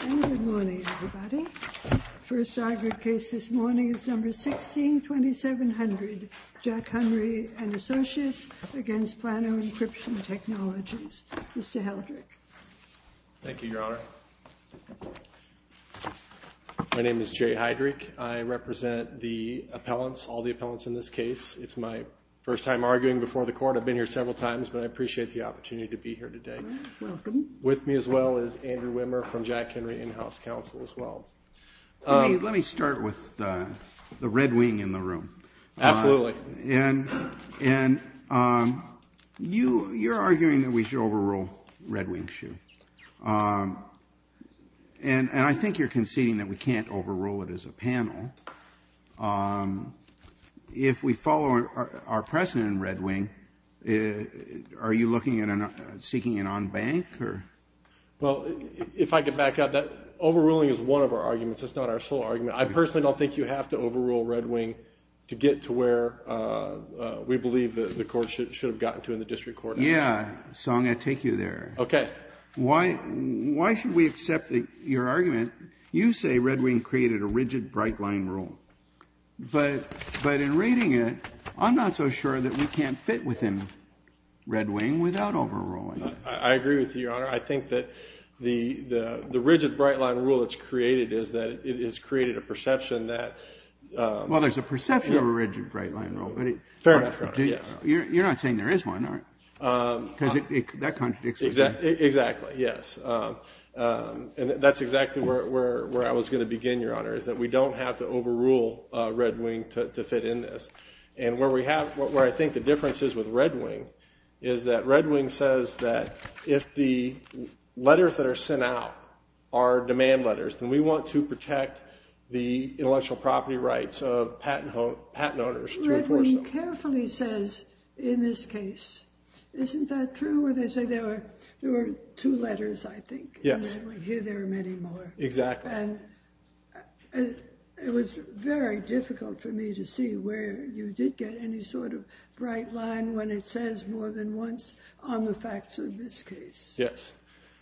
And good morning, everybody. The first argued case this morning is number 16-2700, Jack Henry & Associates v. Plano Encryption Technologies. Mr. Heydrich. Thank you, Your Honor. My name is Jay Heydrich. I represent the appellants, all the appellants in this case. It's my first time arguing before the court. I've been here several times, but I appreciate the opportunity to be here today. Welcome. With me as well is Andrew Wimmer from Jack Henry In-House Counsel as well. Let me start with the Red Wing in the room. Absolutely. And you're arguing that we should overrule Red Wing Shoe. And I think you're conceding that we can't overrule it as a panel. If we follow our precedent in Red Wing, are you seeking an en banc? Well, if I could back up, overruling is one of our arguments. It's not our sole argument. I personally don't think you have to overrule Red Wing to get to where we believe the court should have gotten to in the district court. Yeah. Song, I take you there. Okay. Why should we accept your argument? You say Red Wing created a rigid bright line rule. But in reading it, I'm not so sure that we can't fit within Red Wing without overruling it. I agree with you, Your Honor. I think that the rigid bright line rule that's created is that it has created a perception that ‑‑ Well, there's a perception of a rigid bright line rule. Fair enough, Your Honor. You're not saying there is one, are you? Because that contradicts what you're saying. Exactly. Yes. And that's exactly where I was going to begin, Your Honor, is that we don't have to overrule Red Wing to fit in this. And where I think the difference is with Red Wing is that Red Wing says that if the letters that are sent out are demand letters, then we want to protect the intellectual property rights of patent owners to enforce them. Red Wing carefully says in this case. Isn't that true where they say there were two letters, I think? Yes. And then we hear there are many more. Exactly. And it was very difficult for me to see where you did get any sort of bright line when it says more than once on the facts of this case. Yes.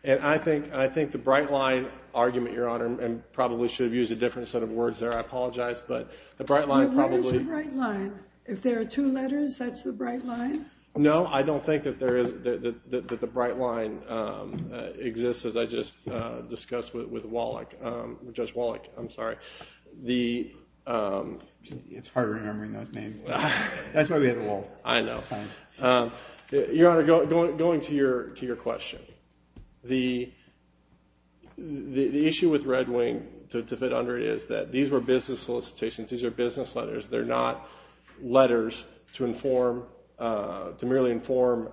And I think the bright line argument, Your Honor, and probably should have used a different set of words there. I apologize. But the bright line probably ‑‑ Where is the bright line? If there are two letters, that's the bright line? No, I don't think that the bright line exists, as I just discussed with Judge Wallach. I'm sorry. It's hard remembering those names. That's why we have the wall. I know. Your Honor, going to your question, the issue with Red Wing to fit under it is that these were business solicitations. These are business letters. They're not letters to merely inform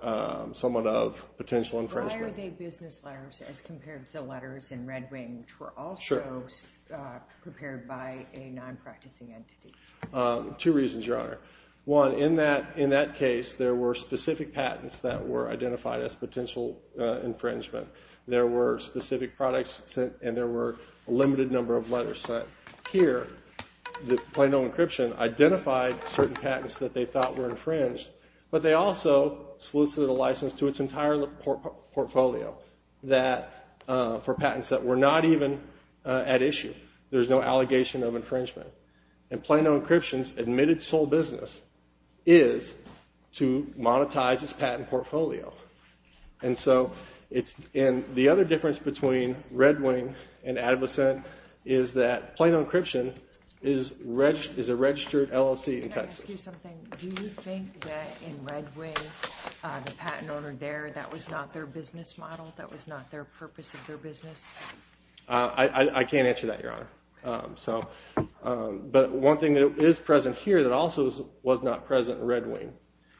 someone of potential infringement. Why are they business letters as compared to the letters in Red Wing, which were also prepared by a non‑practicing entity? Two reasons, Your Honor. One, in that case, there were specific patents that were identified as potential infringement. There were specific products sent, and there were a limited number of letters sent. Here, Plano Encryption identified certain patents that they thought were infringed, but they also solicited a license to its entire portfolio for patents that were not even at issue. There's no allegation of infringement. And Plano Encryption's admitted sole business is to monetize its patent portfolio. And the other difference between Red Wing and AdvoCent is that Plano Encryption is a registered LLC in Texas. Can I ask you something? Do you think that in Red Wing, the patent owner there, that was not their business model? That was not their purpose of their business? I can't answer that, Your Honor. But one thing that is present here that also was not present in Red Wing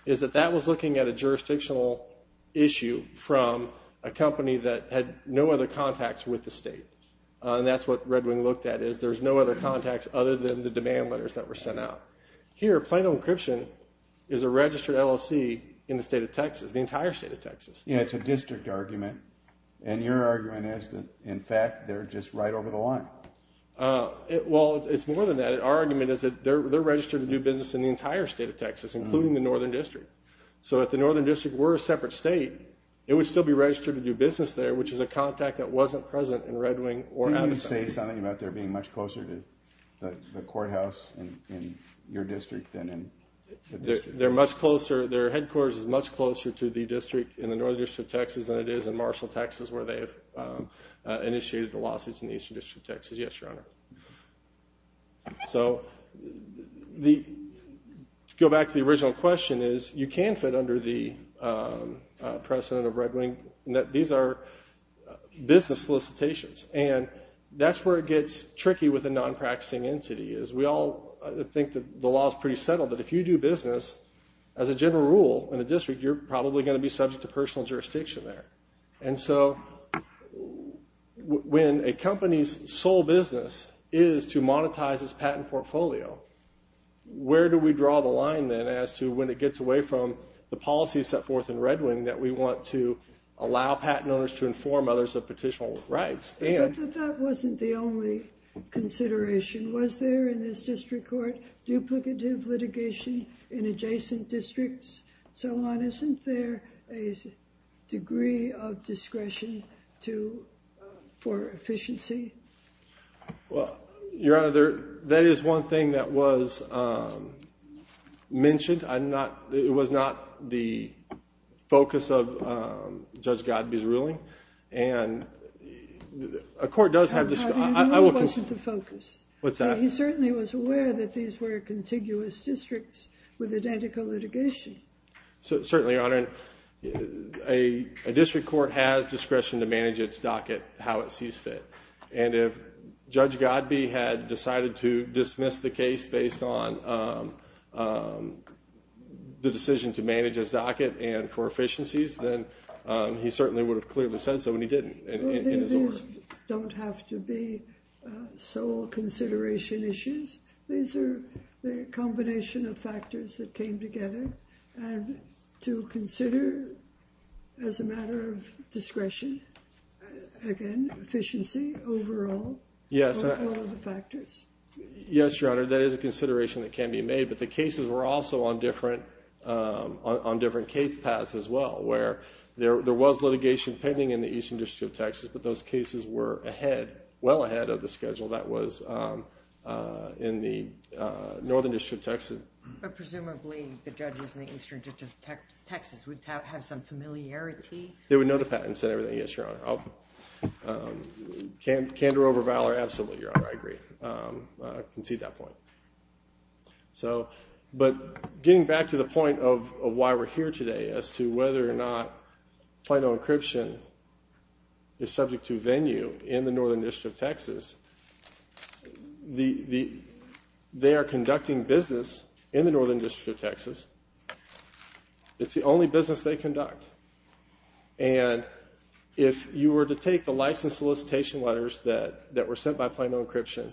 is that that was looking at a jurisdictional issue from a company that had no other contacts with the state. And that's what Red Wing looked at is there's no other contacts other than the demand letters that were sent out. Here, Plano Encryption is a registered LLC in the state of Texas, the entire state of Texas. Yeah, it's a district argument. And your argument is that, in fact, they're just right over the line. Well, it's more than that. Our argument is that they're registered to do business in the entire state of Texas, including the Northern District. So if the Northern District were a separate state, it would still be registered to do business there, which is a contact that wasn't present in Red Wing or AdvoCent. Can you say something about their being much closer to the courthouse in your district than in the district? Their headquarters is much closer to the district in the Northern District of Texas than it is in Marshall, Texas, where they have initiated the lawsuits in the Eastern District of Texas. Yes, Your Honor. So to go back to the original question is you can fit under the precedent of Red Wing. These are business solicitations, and that's where it gets tricky with a non-practicing entity. We all think that the law is pretty settled, but if you do business as a general rule in a district, you're probably going to be subject to personal jurisdiction there. And so when a company's sole business is to monetize its patent portfolio, where do we draw the line then as to when it gets away from the policies set forth in Red Wing that we want to allow patent owners to inform others of petitioner rights? But that wasn't the only consideration. Was there in this district court duplicative litigation in adjacent districts and so on? Isn't there a degree of discretion for efficiency? Well, Your Honor, that is one thing that was mentioned. I know it wasn't the focus. What's that? He certainly was aware that these were contiguous districts with identical litigation. Certainly, Your Honor. A district court has discretion to manage its docket how it sees fit. And if Judge Godbee had decided to dismiss the case based on the decision to manage its docket and for efficiencies, then he certainly would have clearly said so, and he didn't. Well, these don't have to be sole consideration issues. These are the combination of factors that came together. And to consider as a matter of discretion, again, efficiency overall are all of the factors. Yes, Your Honor, that is a consideration that can be made. But the cases were also on different case paths as well, where there was litigation pending in the Eastern District of Texas, but those cases were ahead, well ahead of the schedule that was in the Northern District of Texas. But presumably, the judges in the Eastern District of Texas would have some familiarity. They would know the patents and everything, yes, Your Honor. Candor over valor, absolutely, Your Honor. I agree. I concede that point. But getting back to the point of why we're here today as to whether or not Plano Encryption is subject to venue in the Northern District of Texas, they are conducting business in the Northern District of Texas. It's the only business they conduct. And if you were to take the license solicitation letters that were sent by Plano Encryption,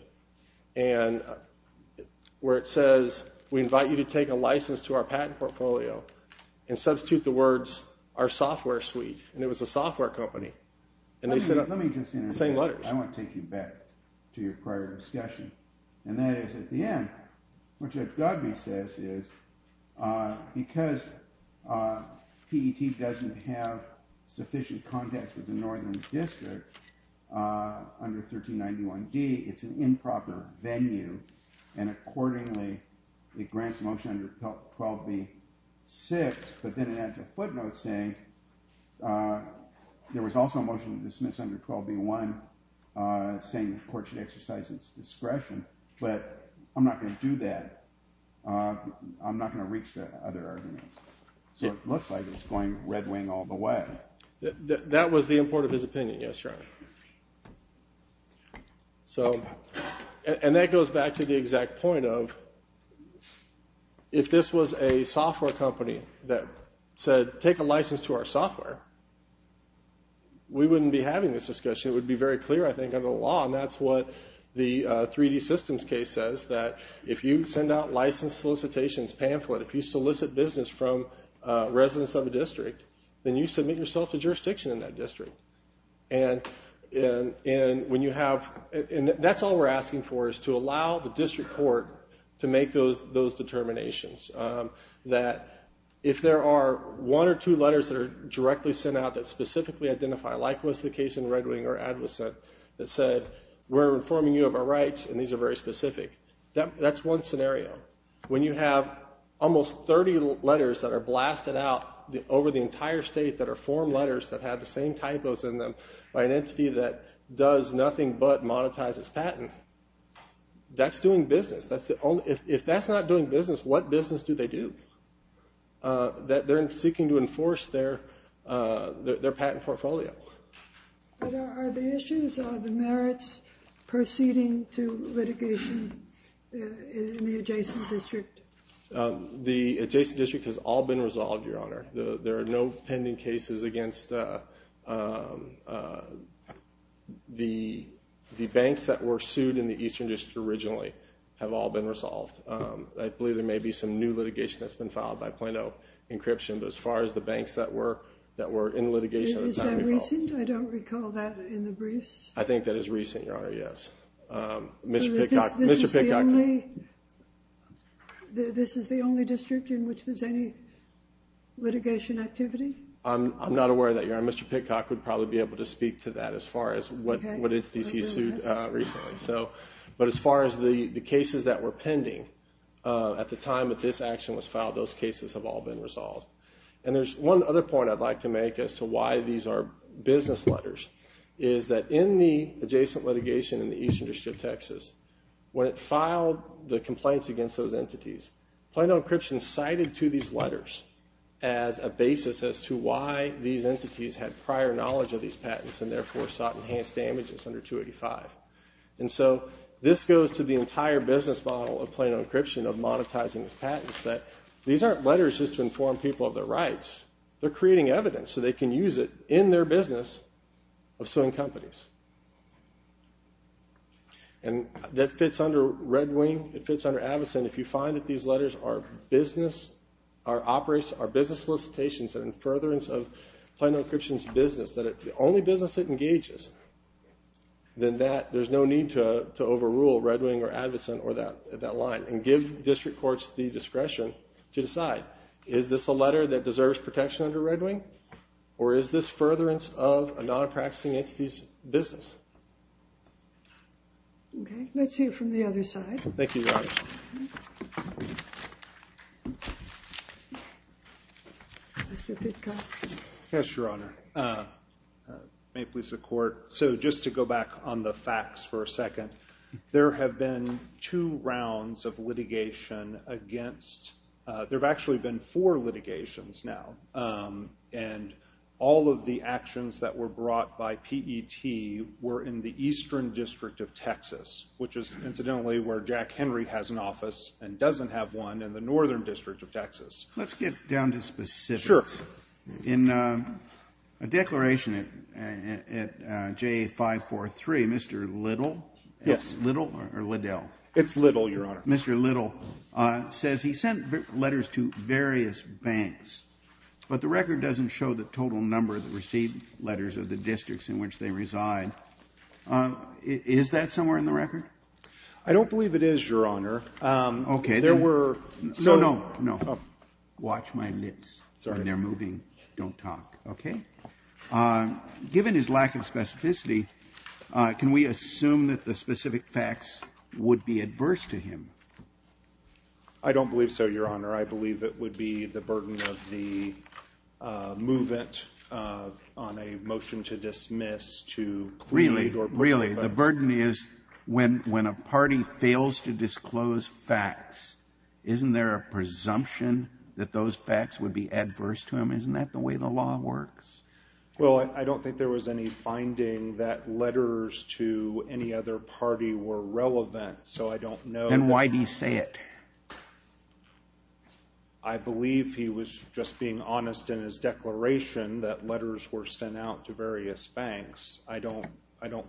where it says, we invite you to take a license to our patent portfolio, and substitute the words, our software suite, and it was a software company, and they sent the same letters. Let me just say, I want to take you back to your prior discussion. And that is, at the end, what Judge Godbee says is, because PET doesn't have sufficient context with the Northern District under 1391D, it's an improper venue, and accordingly, it grants motion under 12B-6, but then it adds a footnote saying, there was also a motion to dismiss under 12B-1, saying the court should exercise its discretion, but I'm not going to do that. I'm not going to reach the other arguments. So it looks like it's going red wing all the way. That was the import of his opinion, yes, Your Honor. And that goes back to the exact point of, if this was a software company that said, take a license to our software, we wouldn't be having this discussion. It would be very clear, I think, under the law, and that's what the 3D Systems case says, that if you send out license solicitations pamphlet, if you solicit business from residents of a district, and when you have, and that's all we're asking for, is to allow the district court to make those determinations, that if there are one or two letters that are directly sent out that specifically identify, like was the case in Red Wing or Advocate, that said, we're informing you of our rights, and these are very specific, that's one scenario. When you have almost 30 letters that are blasted out over the entire state that are form letters that have the same typos in them by an entity that does nothing but monetize its patent, that's doing business. If that's not doing business, what business do they do? They're seeking to enforce their patent portfolio. Are the issues or the merits proceeding to litigation in the adjacent district? The adjacent district has all been resolved, Your Honor. There are no pending cases against the banks that were sued in the eastern district originally have all been resolved. I believe there may be some new litigation that's been filed by Plano Encryption, but as far as the banks that were in litigation at the time involved. Is that recent? I don't recall that in the briefs. I think that is recent, Your Honor, yes. This is the only district in which there's any litigation activity? I'm not aware of that, Your Honor. Mr. Pitcock would probably be able to speak to that as far as what entities he sued recently. As far as the cases that were pending at the time that this action was filed, those cases have all been resolved. There's one other point I'd like to make as to why these are business letters. In the adjacent litigation in the eastern district of Texas, when it filed the complaints against those entities, Plano Encryption cited to these letters as a basis as to why these entities had prior knowledge of these patents and therefore sought enhanced damages under 285. And so this goes to the entire business model of Plano Encryption of monetizing its patents, that these aren't letters just to inform people of their rights. They're creating evidence so they can use it in their business of suing companies. And that fits under Red Wing. It fits under Avacyn. If you find that these letters are business solicitations and in furtherance of Plano Encryption's business, that the only business it engages, then there's no need to overrule Red Wing or Avacyn or that line and give district courts the discretion to decide, is this a letter that deserves protection under Red Wing or is this furtherance of a non-practicing entity's business? Okay. Let's hear from the other side. Thank you, Your Honor. Mr. Pitkoff. Yes, Your Honor. May it please the Court. So just to go back on the facts for a second, there have been two rounds of litigation against ‑‑ there have actually been four litigations now, and all of the actions that were brought by PET were in the Eastern District of Texas, which is incidentally where Jack Henry has an office and doesn't have one in the Northern District of Texas. Let's get down to specifics. Sure. In a declaration at JA 543, Mr. Little ‑‑ Yes. Little or Liddell? It's Little, Your Honor. Mr. Little says he sent letters to various banks, but the record doesn't show the total number that received letters of the districts in which they reside. Is that somewhere in the record? I don't believe it is, Your Honor. Okay. There were ‑‑ No, no, no. Oh. Watch my lips. Sorry. When they're moving, don't talk. Okay? Given his lack of specificity, can we assume that the specific facts would be adverse to him? I don't believe so, Your Honor. I believe it would be the burden of the movement on a motion to dismiss to plead or protest. Really? Really? The burden is when a party fails to disclose facts, isn't there a presumption that those facts would be adverse to him? Isn't that the way the law works? Well, I don't think there was any finding that letters to any other party were relevant, so I don't know. Then why did he say it? I believe he was just being honest in his declaration that letters were sent out to various banks. I don't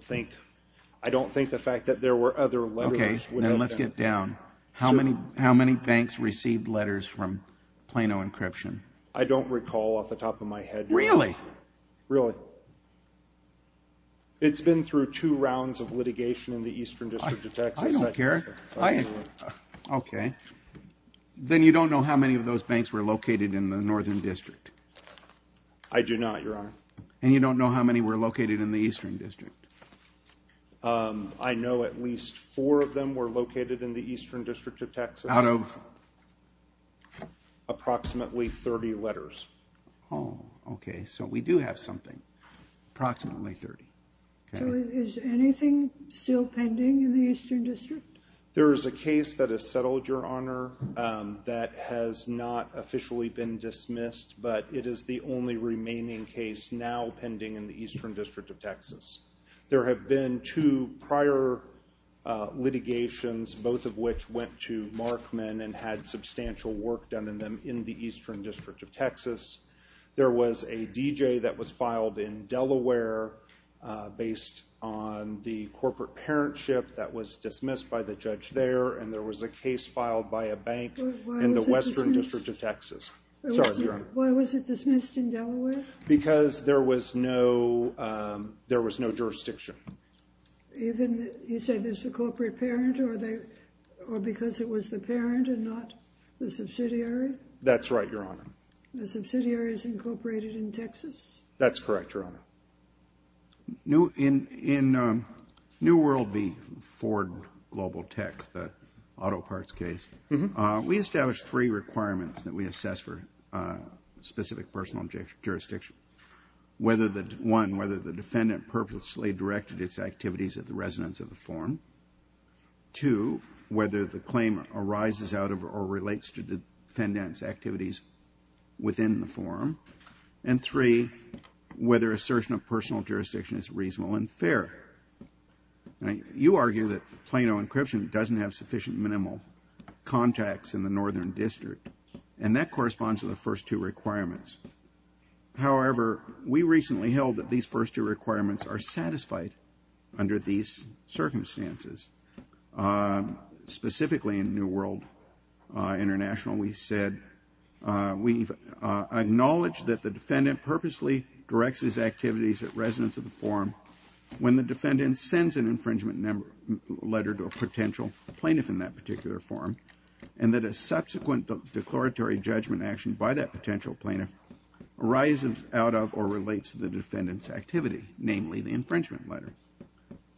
think the fact that there were other letters would have been ‑‑ Okay. Then let's get down. How many banks received letters from Plano Encryption? I don't recall off the top of my head, Your Honor. Really? Really. It's been through two rounds of litigation in the Eastern District of Texas. I don't care. Okay. Then you don't know how many of those banks were located in the Northern District? I do not, Your Honor. And you don't know how many were located in the Eastern District? I know at least four of them were located in the Eastern District of Texas. Out of? Approximately 30 letters. Oh, okay. So we do have something. Approximately 30. Okay. So is anything still pending in the Eastern District? There is a case that has settled, Your Honor, that has not officially been dismissed, but it is the only remaining case now pending in the Eastern District of Texas. There have been two prior litigations, both of which went to Markman and had substantial work done in them in the Eastern District of Texas. There was a D.J. that was filed in Delaware based on the corporate parentship that was dismissed by the judge there, and there was a case filed by a bank in the Western District of Texas. Sorry, Your Honor. Why was it dismissed in Delaware? Because there was no jurisdiction. You say there's a corporate parent or because it was the parent and not the subsidiary? That's right, Your Honor. The subsidiary is incorporated in Texas? That's correct, Your Honor. In New World v. Ford Global Tech, the auto parts case, we established three requirements that we assess for specific personal jurisdiction. One, whether the defendant purposely directed its activities at the residents of the forum. Two, whether the claim arises out of or relates to the defendant's activities within the forum. And three, whether assertion of personal jurisdiction is reasonable and fair. You argue that Plano encryption doesn't have sufficient minimal contacts in the Northern District, and that corresponds to the first two requirements. However, we recently held that these first two requirements are satisfied under these circumstances. Specifically in New World International, we said, we've acknowledged that the defendant purposely directs his activities at residents of the forum when the defendant sends an infringement letter to a potential plaintiff in that particular forum, and that a subsequent declaratory judgment action by that potential plaintiff arises out of or relates to the defendant's activity, namely the infringement letter.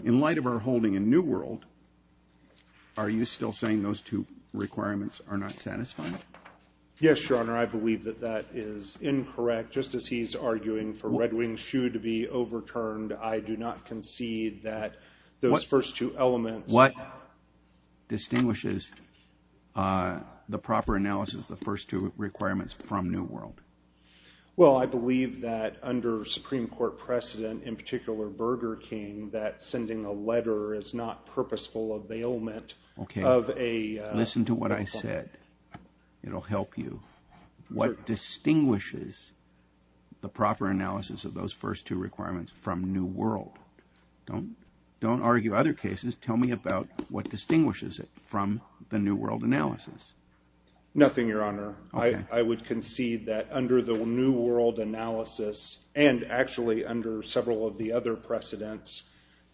In light of our holding in New World, are you still saying those two requirements are not satisfied? Yes, Your Honor. I believe that that is incorrect. Just as he's arguing for Red Wing Shoe to be overturned, I do not concede that those first two elements. What distinguishes the proper analysis of the first two requirements from New World? Well, I believe that under Supreme Court precedent, in particular Burger King, that sending a letter is not purposeful availment of a... Listen to what I said. It'll help you. What distinguishes the proper analysis of those first two requirements from New World? Don't argue other cases. Tell me about what distinguishes it from the New World analysis. Nothing, Your Honor. I would concede that under the New World analysis and actually under several of the other precedents,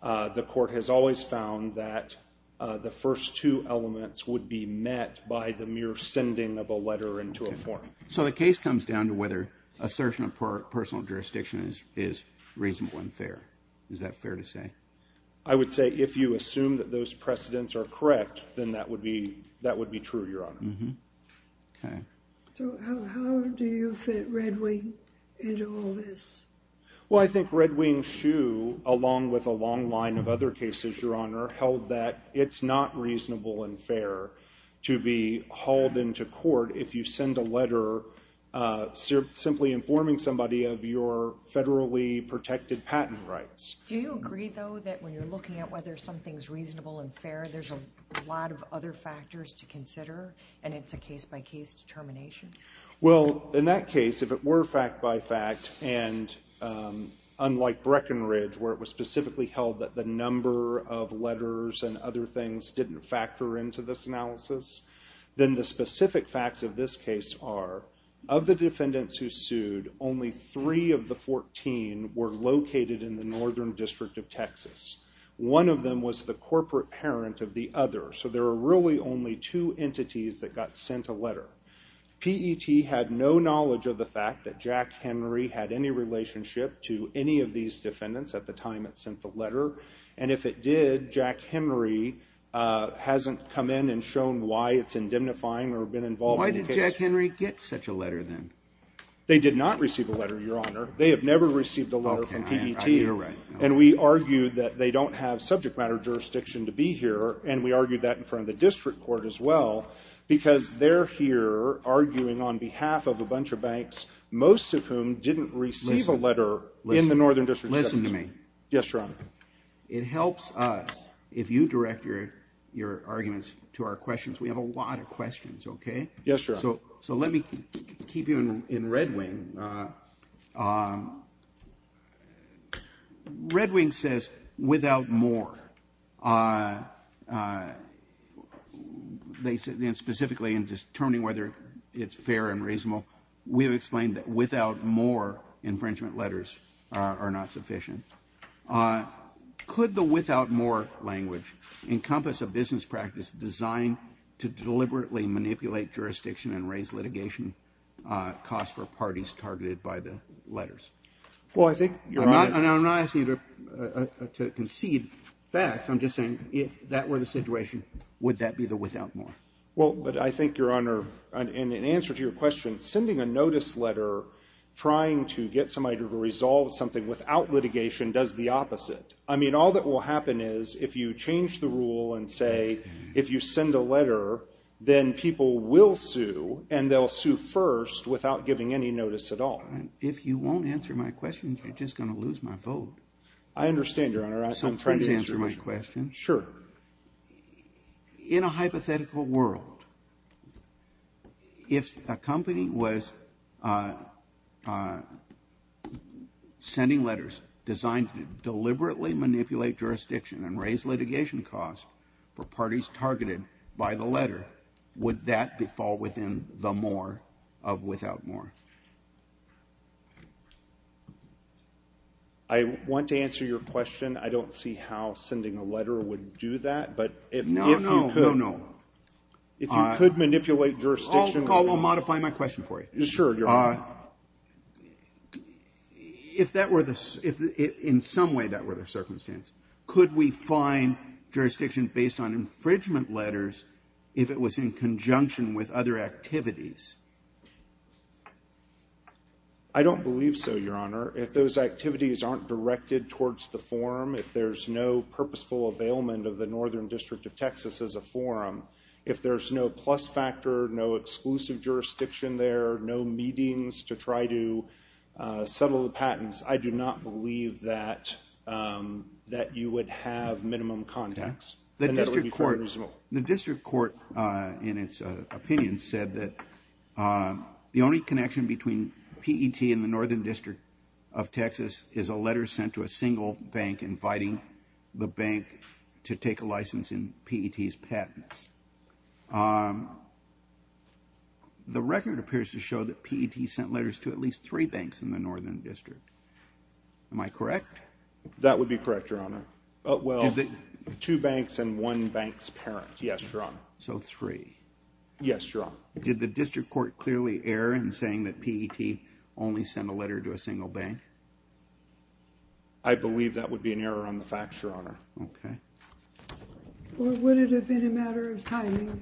the court has always found that the first two elements would be met by the mere sending of a letter into a form. So the case comes down to whether assertion of personal jurisdiction is reasonable and fair. Is that fair to say? I would say if you assume that those precedents are correct, then that would be true, Your Honor. Okay. So how do you fit Red Wing into all this? Well, I think Red Wing's shoe, along with a long line of other cases, Your Honor, held that it's not reasonable and fair to be hauled into court if you send a letter simply informing somebody of your federally protected patent rights. Do you agree, though, that when you're looking at whether something's reasonable and fair, there's a lot of other factors to consider and it's a case-by-case determination? Well, in that case, if it were fact-by-fact, and unlike Breckenridge, where it was specifically held that the number of letters and other things didn't factor into this analysis, then the specific facts of this case are of the defendants who sued, only three of the 14 were located in the Northern District of Texas. One of them was the corporate parent of the other. So there were really only two entities that got sent a letter. PET had no knowledge of the fact that Jack Henry had any relationship to any of these defendants at the time it sent the letter, and if it did, Jack Henry hasn't come in and shown why it's indemnifying or been involved in the case. Why did Jack Henry get such a letter, then? They did not receive a letter, Your Honor. They have never received a letter from PET. Oh, I hear right. And we argued that they don't have subject matter jurisdiction to be here, and we argued that in front of the district court as well, because they're here arguing on behalf of a bunch of banks, most of whom didn't receive a letter in the Northern District of Texas. Listen to me. Yes, Your Honor. It helps us if you direct your arguments to our questions. We have a lot of questions, okay? Yes, Your Honor. So let me keep you in Red Wing. Okay. Red Wing says, without more. Specifically in determining whether it's fair and reasonable, we have explained that without more infringement letters are not sufficient. Could the without more language encompass a business practice designed to deliberately manipulate jurisdiction and raise litigation costs for parties targeted by the letters? Well, I think you're right. I'm not asking you to concede facts. I'm just saying if that were the situation, would that be the without more? Well, but I think, Your Honor, in answer to your question, sending a notice letter trying to get somebody to resolve something without litigation does the opposite. I mean, all that will happen is if you change the rule and say if you send a letter, then people will sue and they'll sue first without giving any notice at all. If you won't answer my question, you're just going to lose my vote. I understand, Your Honor. So please answer my question. Sure. In a hypothetical world, if a company was sending letters designed to deliberately manipulate jurisdiction and raise litigation costs for parties targeted by the letter, would that fall within the more of without more? I want to answer your question. I don't see how sending a letter would do that. No, no, no, no. If you could manipulate jurisdiction. I'll modify my question for you. Sure, Your Honor. If in some way that were the circumstance, could we find jurisdiction based on infringement letters if it was in conjunction with other activities? I don't believe so, Your Honor. If those activities aren't directed towards the forum, if there's no purposeful availment of the Northern District of Texas as a forum, if there's no plus factor, no exclusive jurisdiction there, no meetings to try to settle the patents, I do not believe that you would have minimum contacts. The district court, in its opinion, said that the only connection between PET and the Northern District of Texas is a letter sent to a single bank inviting the bank to take a license in PET's patents. The record appears to show that PET sent letters to at least three banks in the Northern District. Am I correct? That would be correct, Your Honor. Well, two banks and one bank's parent. Yes, Your Honor. So three. Yes, Your Honor. Did the district court clearly err in saying that PET only sent a letter to a single bank? I believe that would be an error on the facts, Your Honor. Okay. Or would it have been a matter of timing?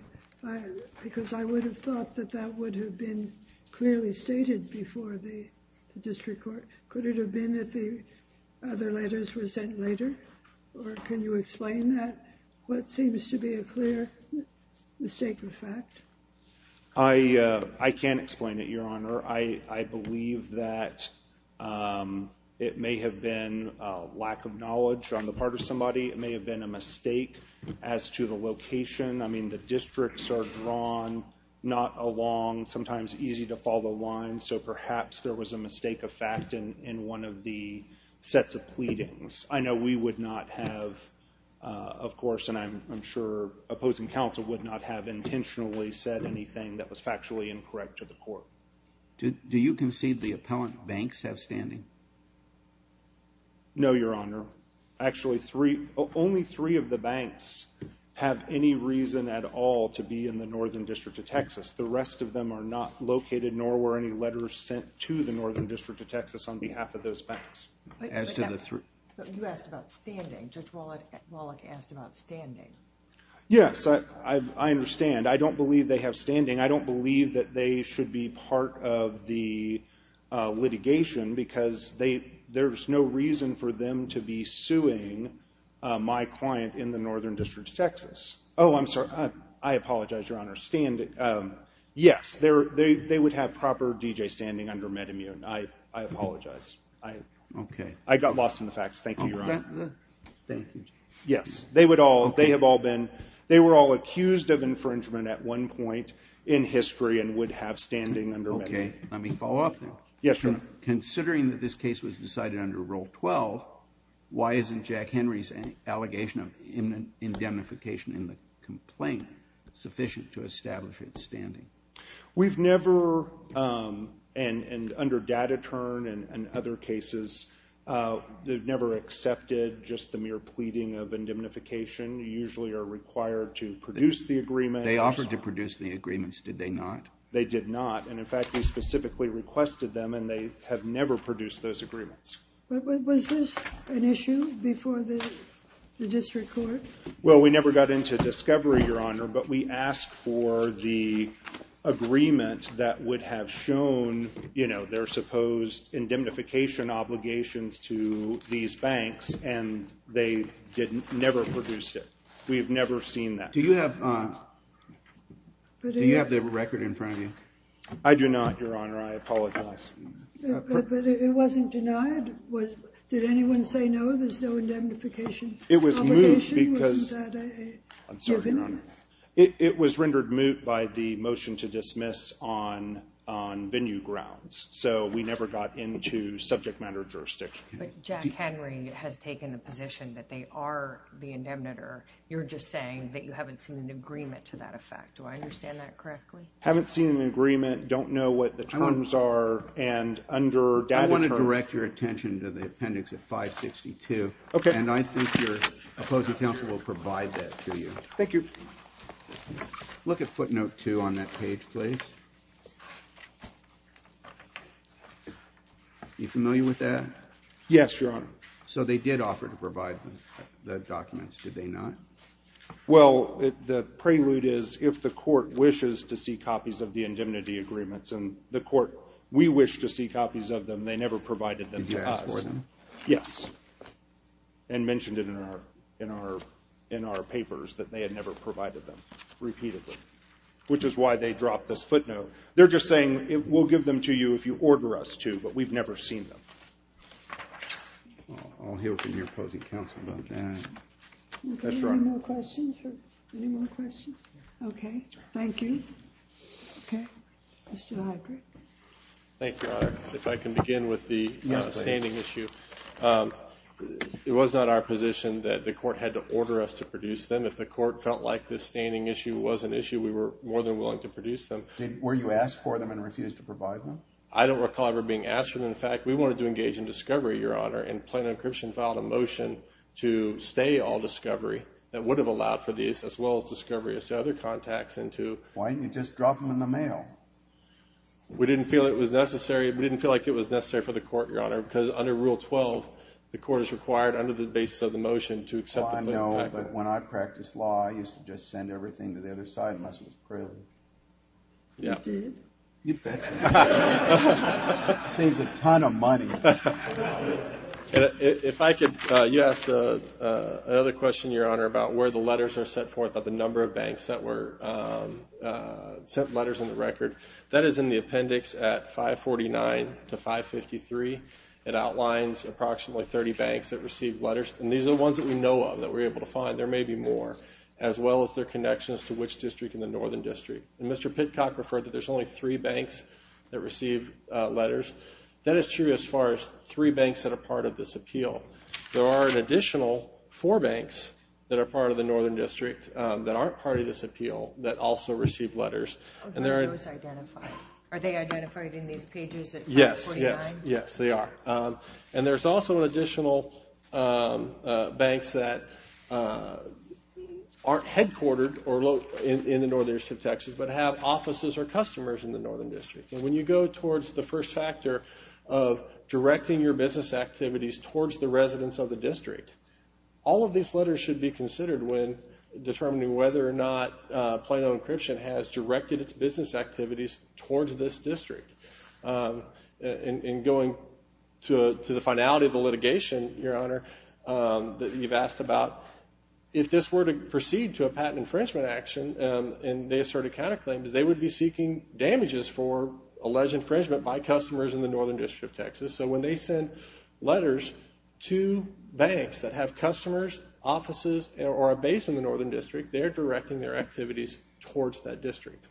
Because I would have thought that that would have been clearly stated before the district court. Could it have been that the other letters were sent later? Or can you explain that? What seems to be a clear mistake of fact? I can't explain it, Your Honor. I believe that it may have been a lack of knowledge on the part of somebody. It may have been a mistake as to the location. I mean, the districts are drawn not along sometimes easy-to-follow lines, so perhaps there was a mistake of fact in one of the sets of pleadings. I know we would not have, of course, and I'm sure opposing counsel would not have intentionally said anything that was factually incorrect to the court. Do you concede the appellant banks have standing? No, Your Honor. Actually, only three of the banks have any reason at all to be in the Northern District of Texas. The rest of them are not located, nor were any letters sent to the Northern District of Texas on behalf of those banks. But you asked about standing. Judge Wallach asked about standing. Yes, I understand. I don't believe they have standing. I don't believe that they should be part of the litigation because there's no reason for them to be suing my client in the Northern District of Texas. Oh, I'm sorry. I apologize, Your Honor. Yes, they would have proper D.J. standing under MedImmune. I apologize. Okay. I got lost in the facts. Thank you, Your Honor. Okay. Thank you. Yes. They have all been they were all accused of infringement at one point in history and would have standing under MedImmune. Okay. Let me follow up. Yes, sir. Considering that this case was decided under Rule 12, why isn't Jack Henry's allegation of indemnification in the complaint sufficient to establish its standing? We've never, and under Data Turn and other cases, they've never accepted just the mere pleading of indemnification. You usually are required to produce the agreement. They offered to produce the agreements. Did they not? They did not. And, in fact, we specifically requested them, and they have never produced those agreements. Was this an issue before the district court? Well, we never got into discovery, Your Honor, but we asked for the agreement that would have shown, you know, their supposed indemnification obligations to these banks, and they never produced it. We have never seen that. Do you have the record in front of you? I do not, Your Honor. I apologize. But it wasn't denied? Did anyone say no, there's no indemnification obligation? It was moved because it was rendered moot by the motion to dismiss on venue grounds, so we never got into subject matter jurisdiction. But Jack Henry has taken a position that they are the indemnitor. You're just saying that you haven't seen an agreement to that effect. Do I understand that correctly? Haven't seen an agreement, don't know what the terms are, and under data terms. I want to direct your attention to the appendix of 562. Okay. And I think your opposing counsel will provide that to you. Thank you. Look at footnote 2 on that page, please. Are you familiar with that? Yes, Your Honor. So they did offer to provide the documents, did they not? Well, the prelude is if the court wishes to see copies of the indemnity agreements, and the court, we wish to see copies of them, they never provided them to us. Did you ask for them? Yes. And mentioned it in our papers that they had never provided them, repeated them, which is why they dropped this footnote. They're just saying we'll give them to you if you order us to, but we've never seen them. I'll hear from your opposing counsel about that. That's right. Any more questions? Any more questions? Okay. Thank you. Okay. Mr. Heidrich. Thank you, Your Honor. If I can begin with the standing issue. It was not our position that the court had to order us to produce them. If the court felt like the standing issue was an issue, we were more than willing to produce them. Were you asked for them and refused to provide them? I don't recall ever being asked for them. In fact, we wanted to engage in discovery, Your Honor, and plain encryption filed a motion to stay all discovery that would have allowed for these, as well as discovery as to other contacts. Why didn't you just drop them in the mail? We didn't feel it was necessary. We didn't feel like it was necessary for the court, Your Honor, because under Rule 12, the court is required under the basis of the motion to accept the claim. I don't know, but when I practiced law, I used to just send everything to the other side, unless it was prelude. You did? You bet. Saves a ton of money. If I could, you asked another question, Your Honor, about where the letters are sent forth, about the number of banks that were sent letters on the record. That is in the appendix at 549 to 553. It outlines approximately 30 banks that received letters, and these are the ones that we know of that we're able to find. There may be more, as well as their connections to which district in the Northern District. And Mr. Pitcock referred that there's only three banks that received letters. That is true as far as three banks that are part of this appeal. There are an additional four banks that are part of the Northern District that aren't part of this appeal that also received letters. Are those identified? Are they identified in these pages at 549? Yes, yes, yes, they are. And there's also additional banks that aren't headquartered in the Northern District of Texas but have offices or customers in the Northern District. And when you go towards the first factor of directing your business activities towards the residents of the district, all of these letters should be considered when determining whether or not Plano Encryption has directed its business activities towards this district and going to the finality of the litigation, Your Honor, that you've asked about. If this were to proceed to a patent infringement action and they asserted counterclaims, they would be seeking damages for alleged infringement by customers in the Northern District of Texas. So when they send letters to banks that have customers, offices, or a base in the Northern District, they're directing their activities towards that district.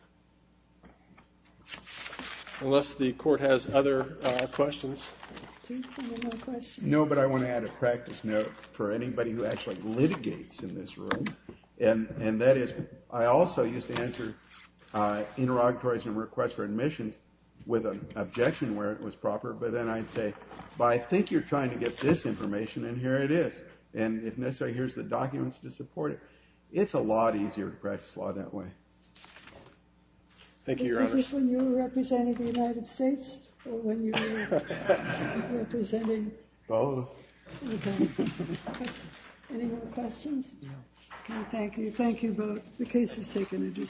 Unless the Court has other questions. Do you have any more questions? No, but I want to add a practice note for anybody who actually litigates in this room, and that is I also used to answer interrogatories and requests for admissions with an objection where it was proper, but then I'd say, I think you're trying to get this information, and here it is. And if necessary, here's the documents to support it. It's a lot easier to practice law that way. Thank you, Your Honor. Was this when you were representing the United States or when you were representing? Both. Okay. Any more questions? No. Okay, thank you. Thank you both. The case has taken a decision.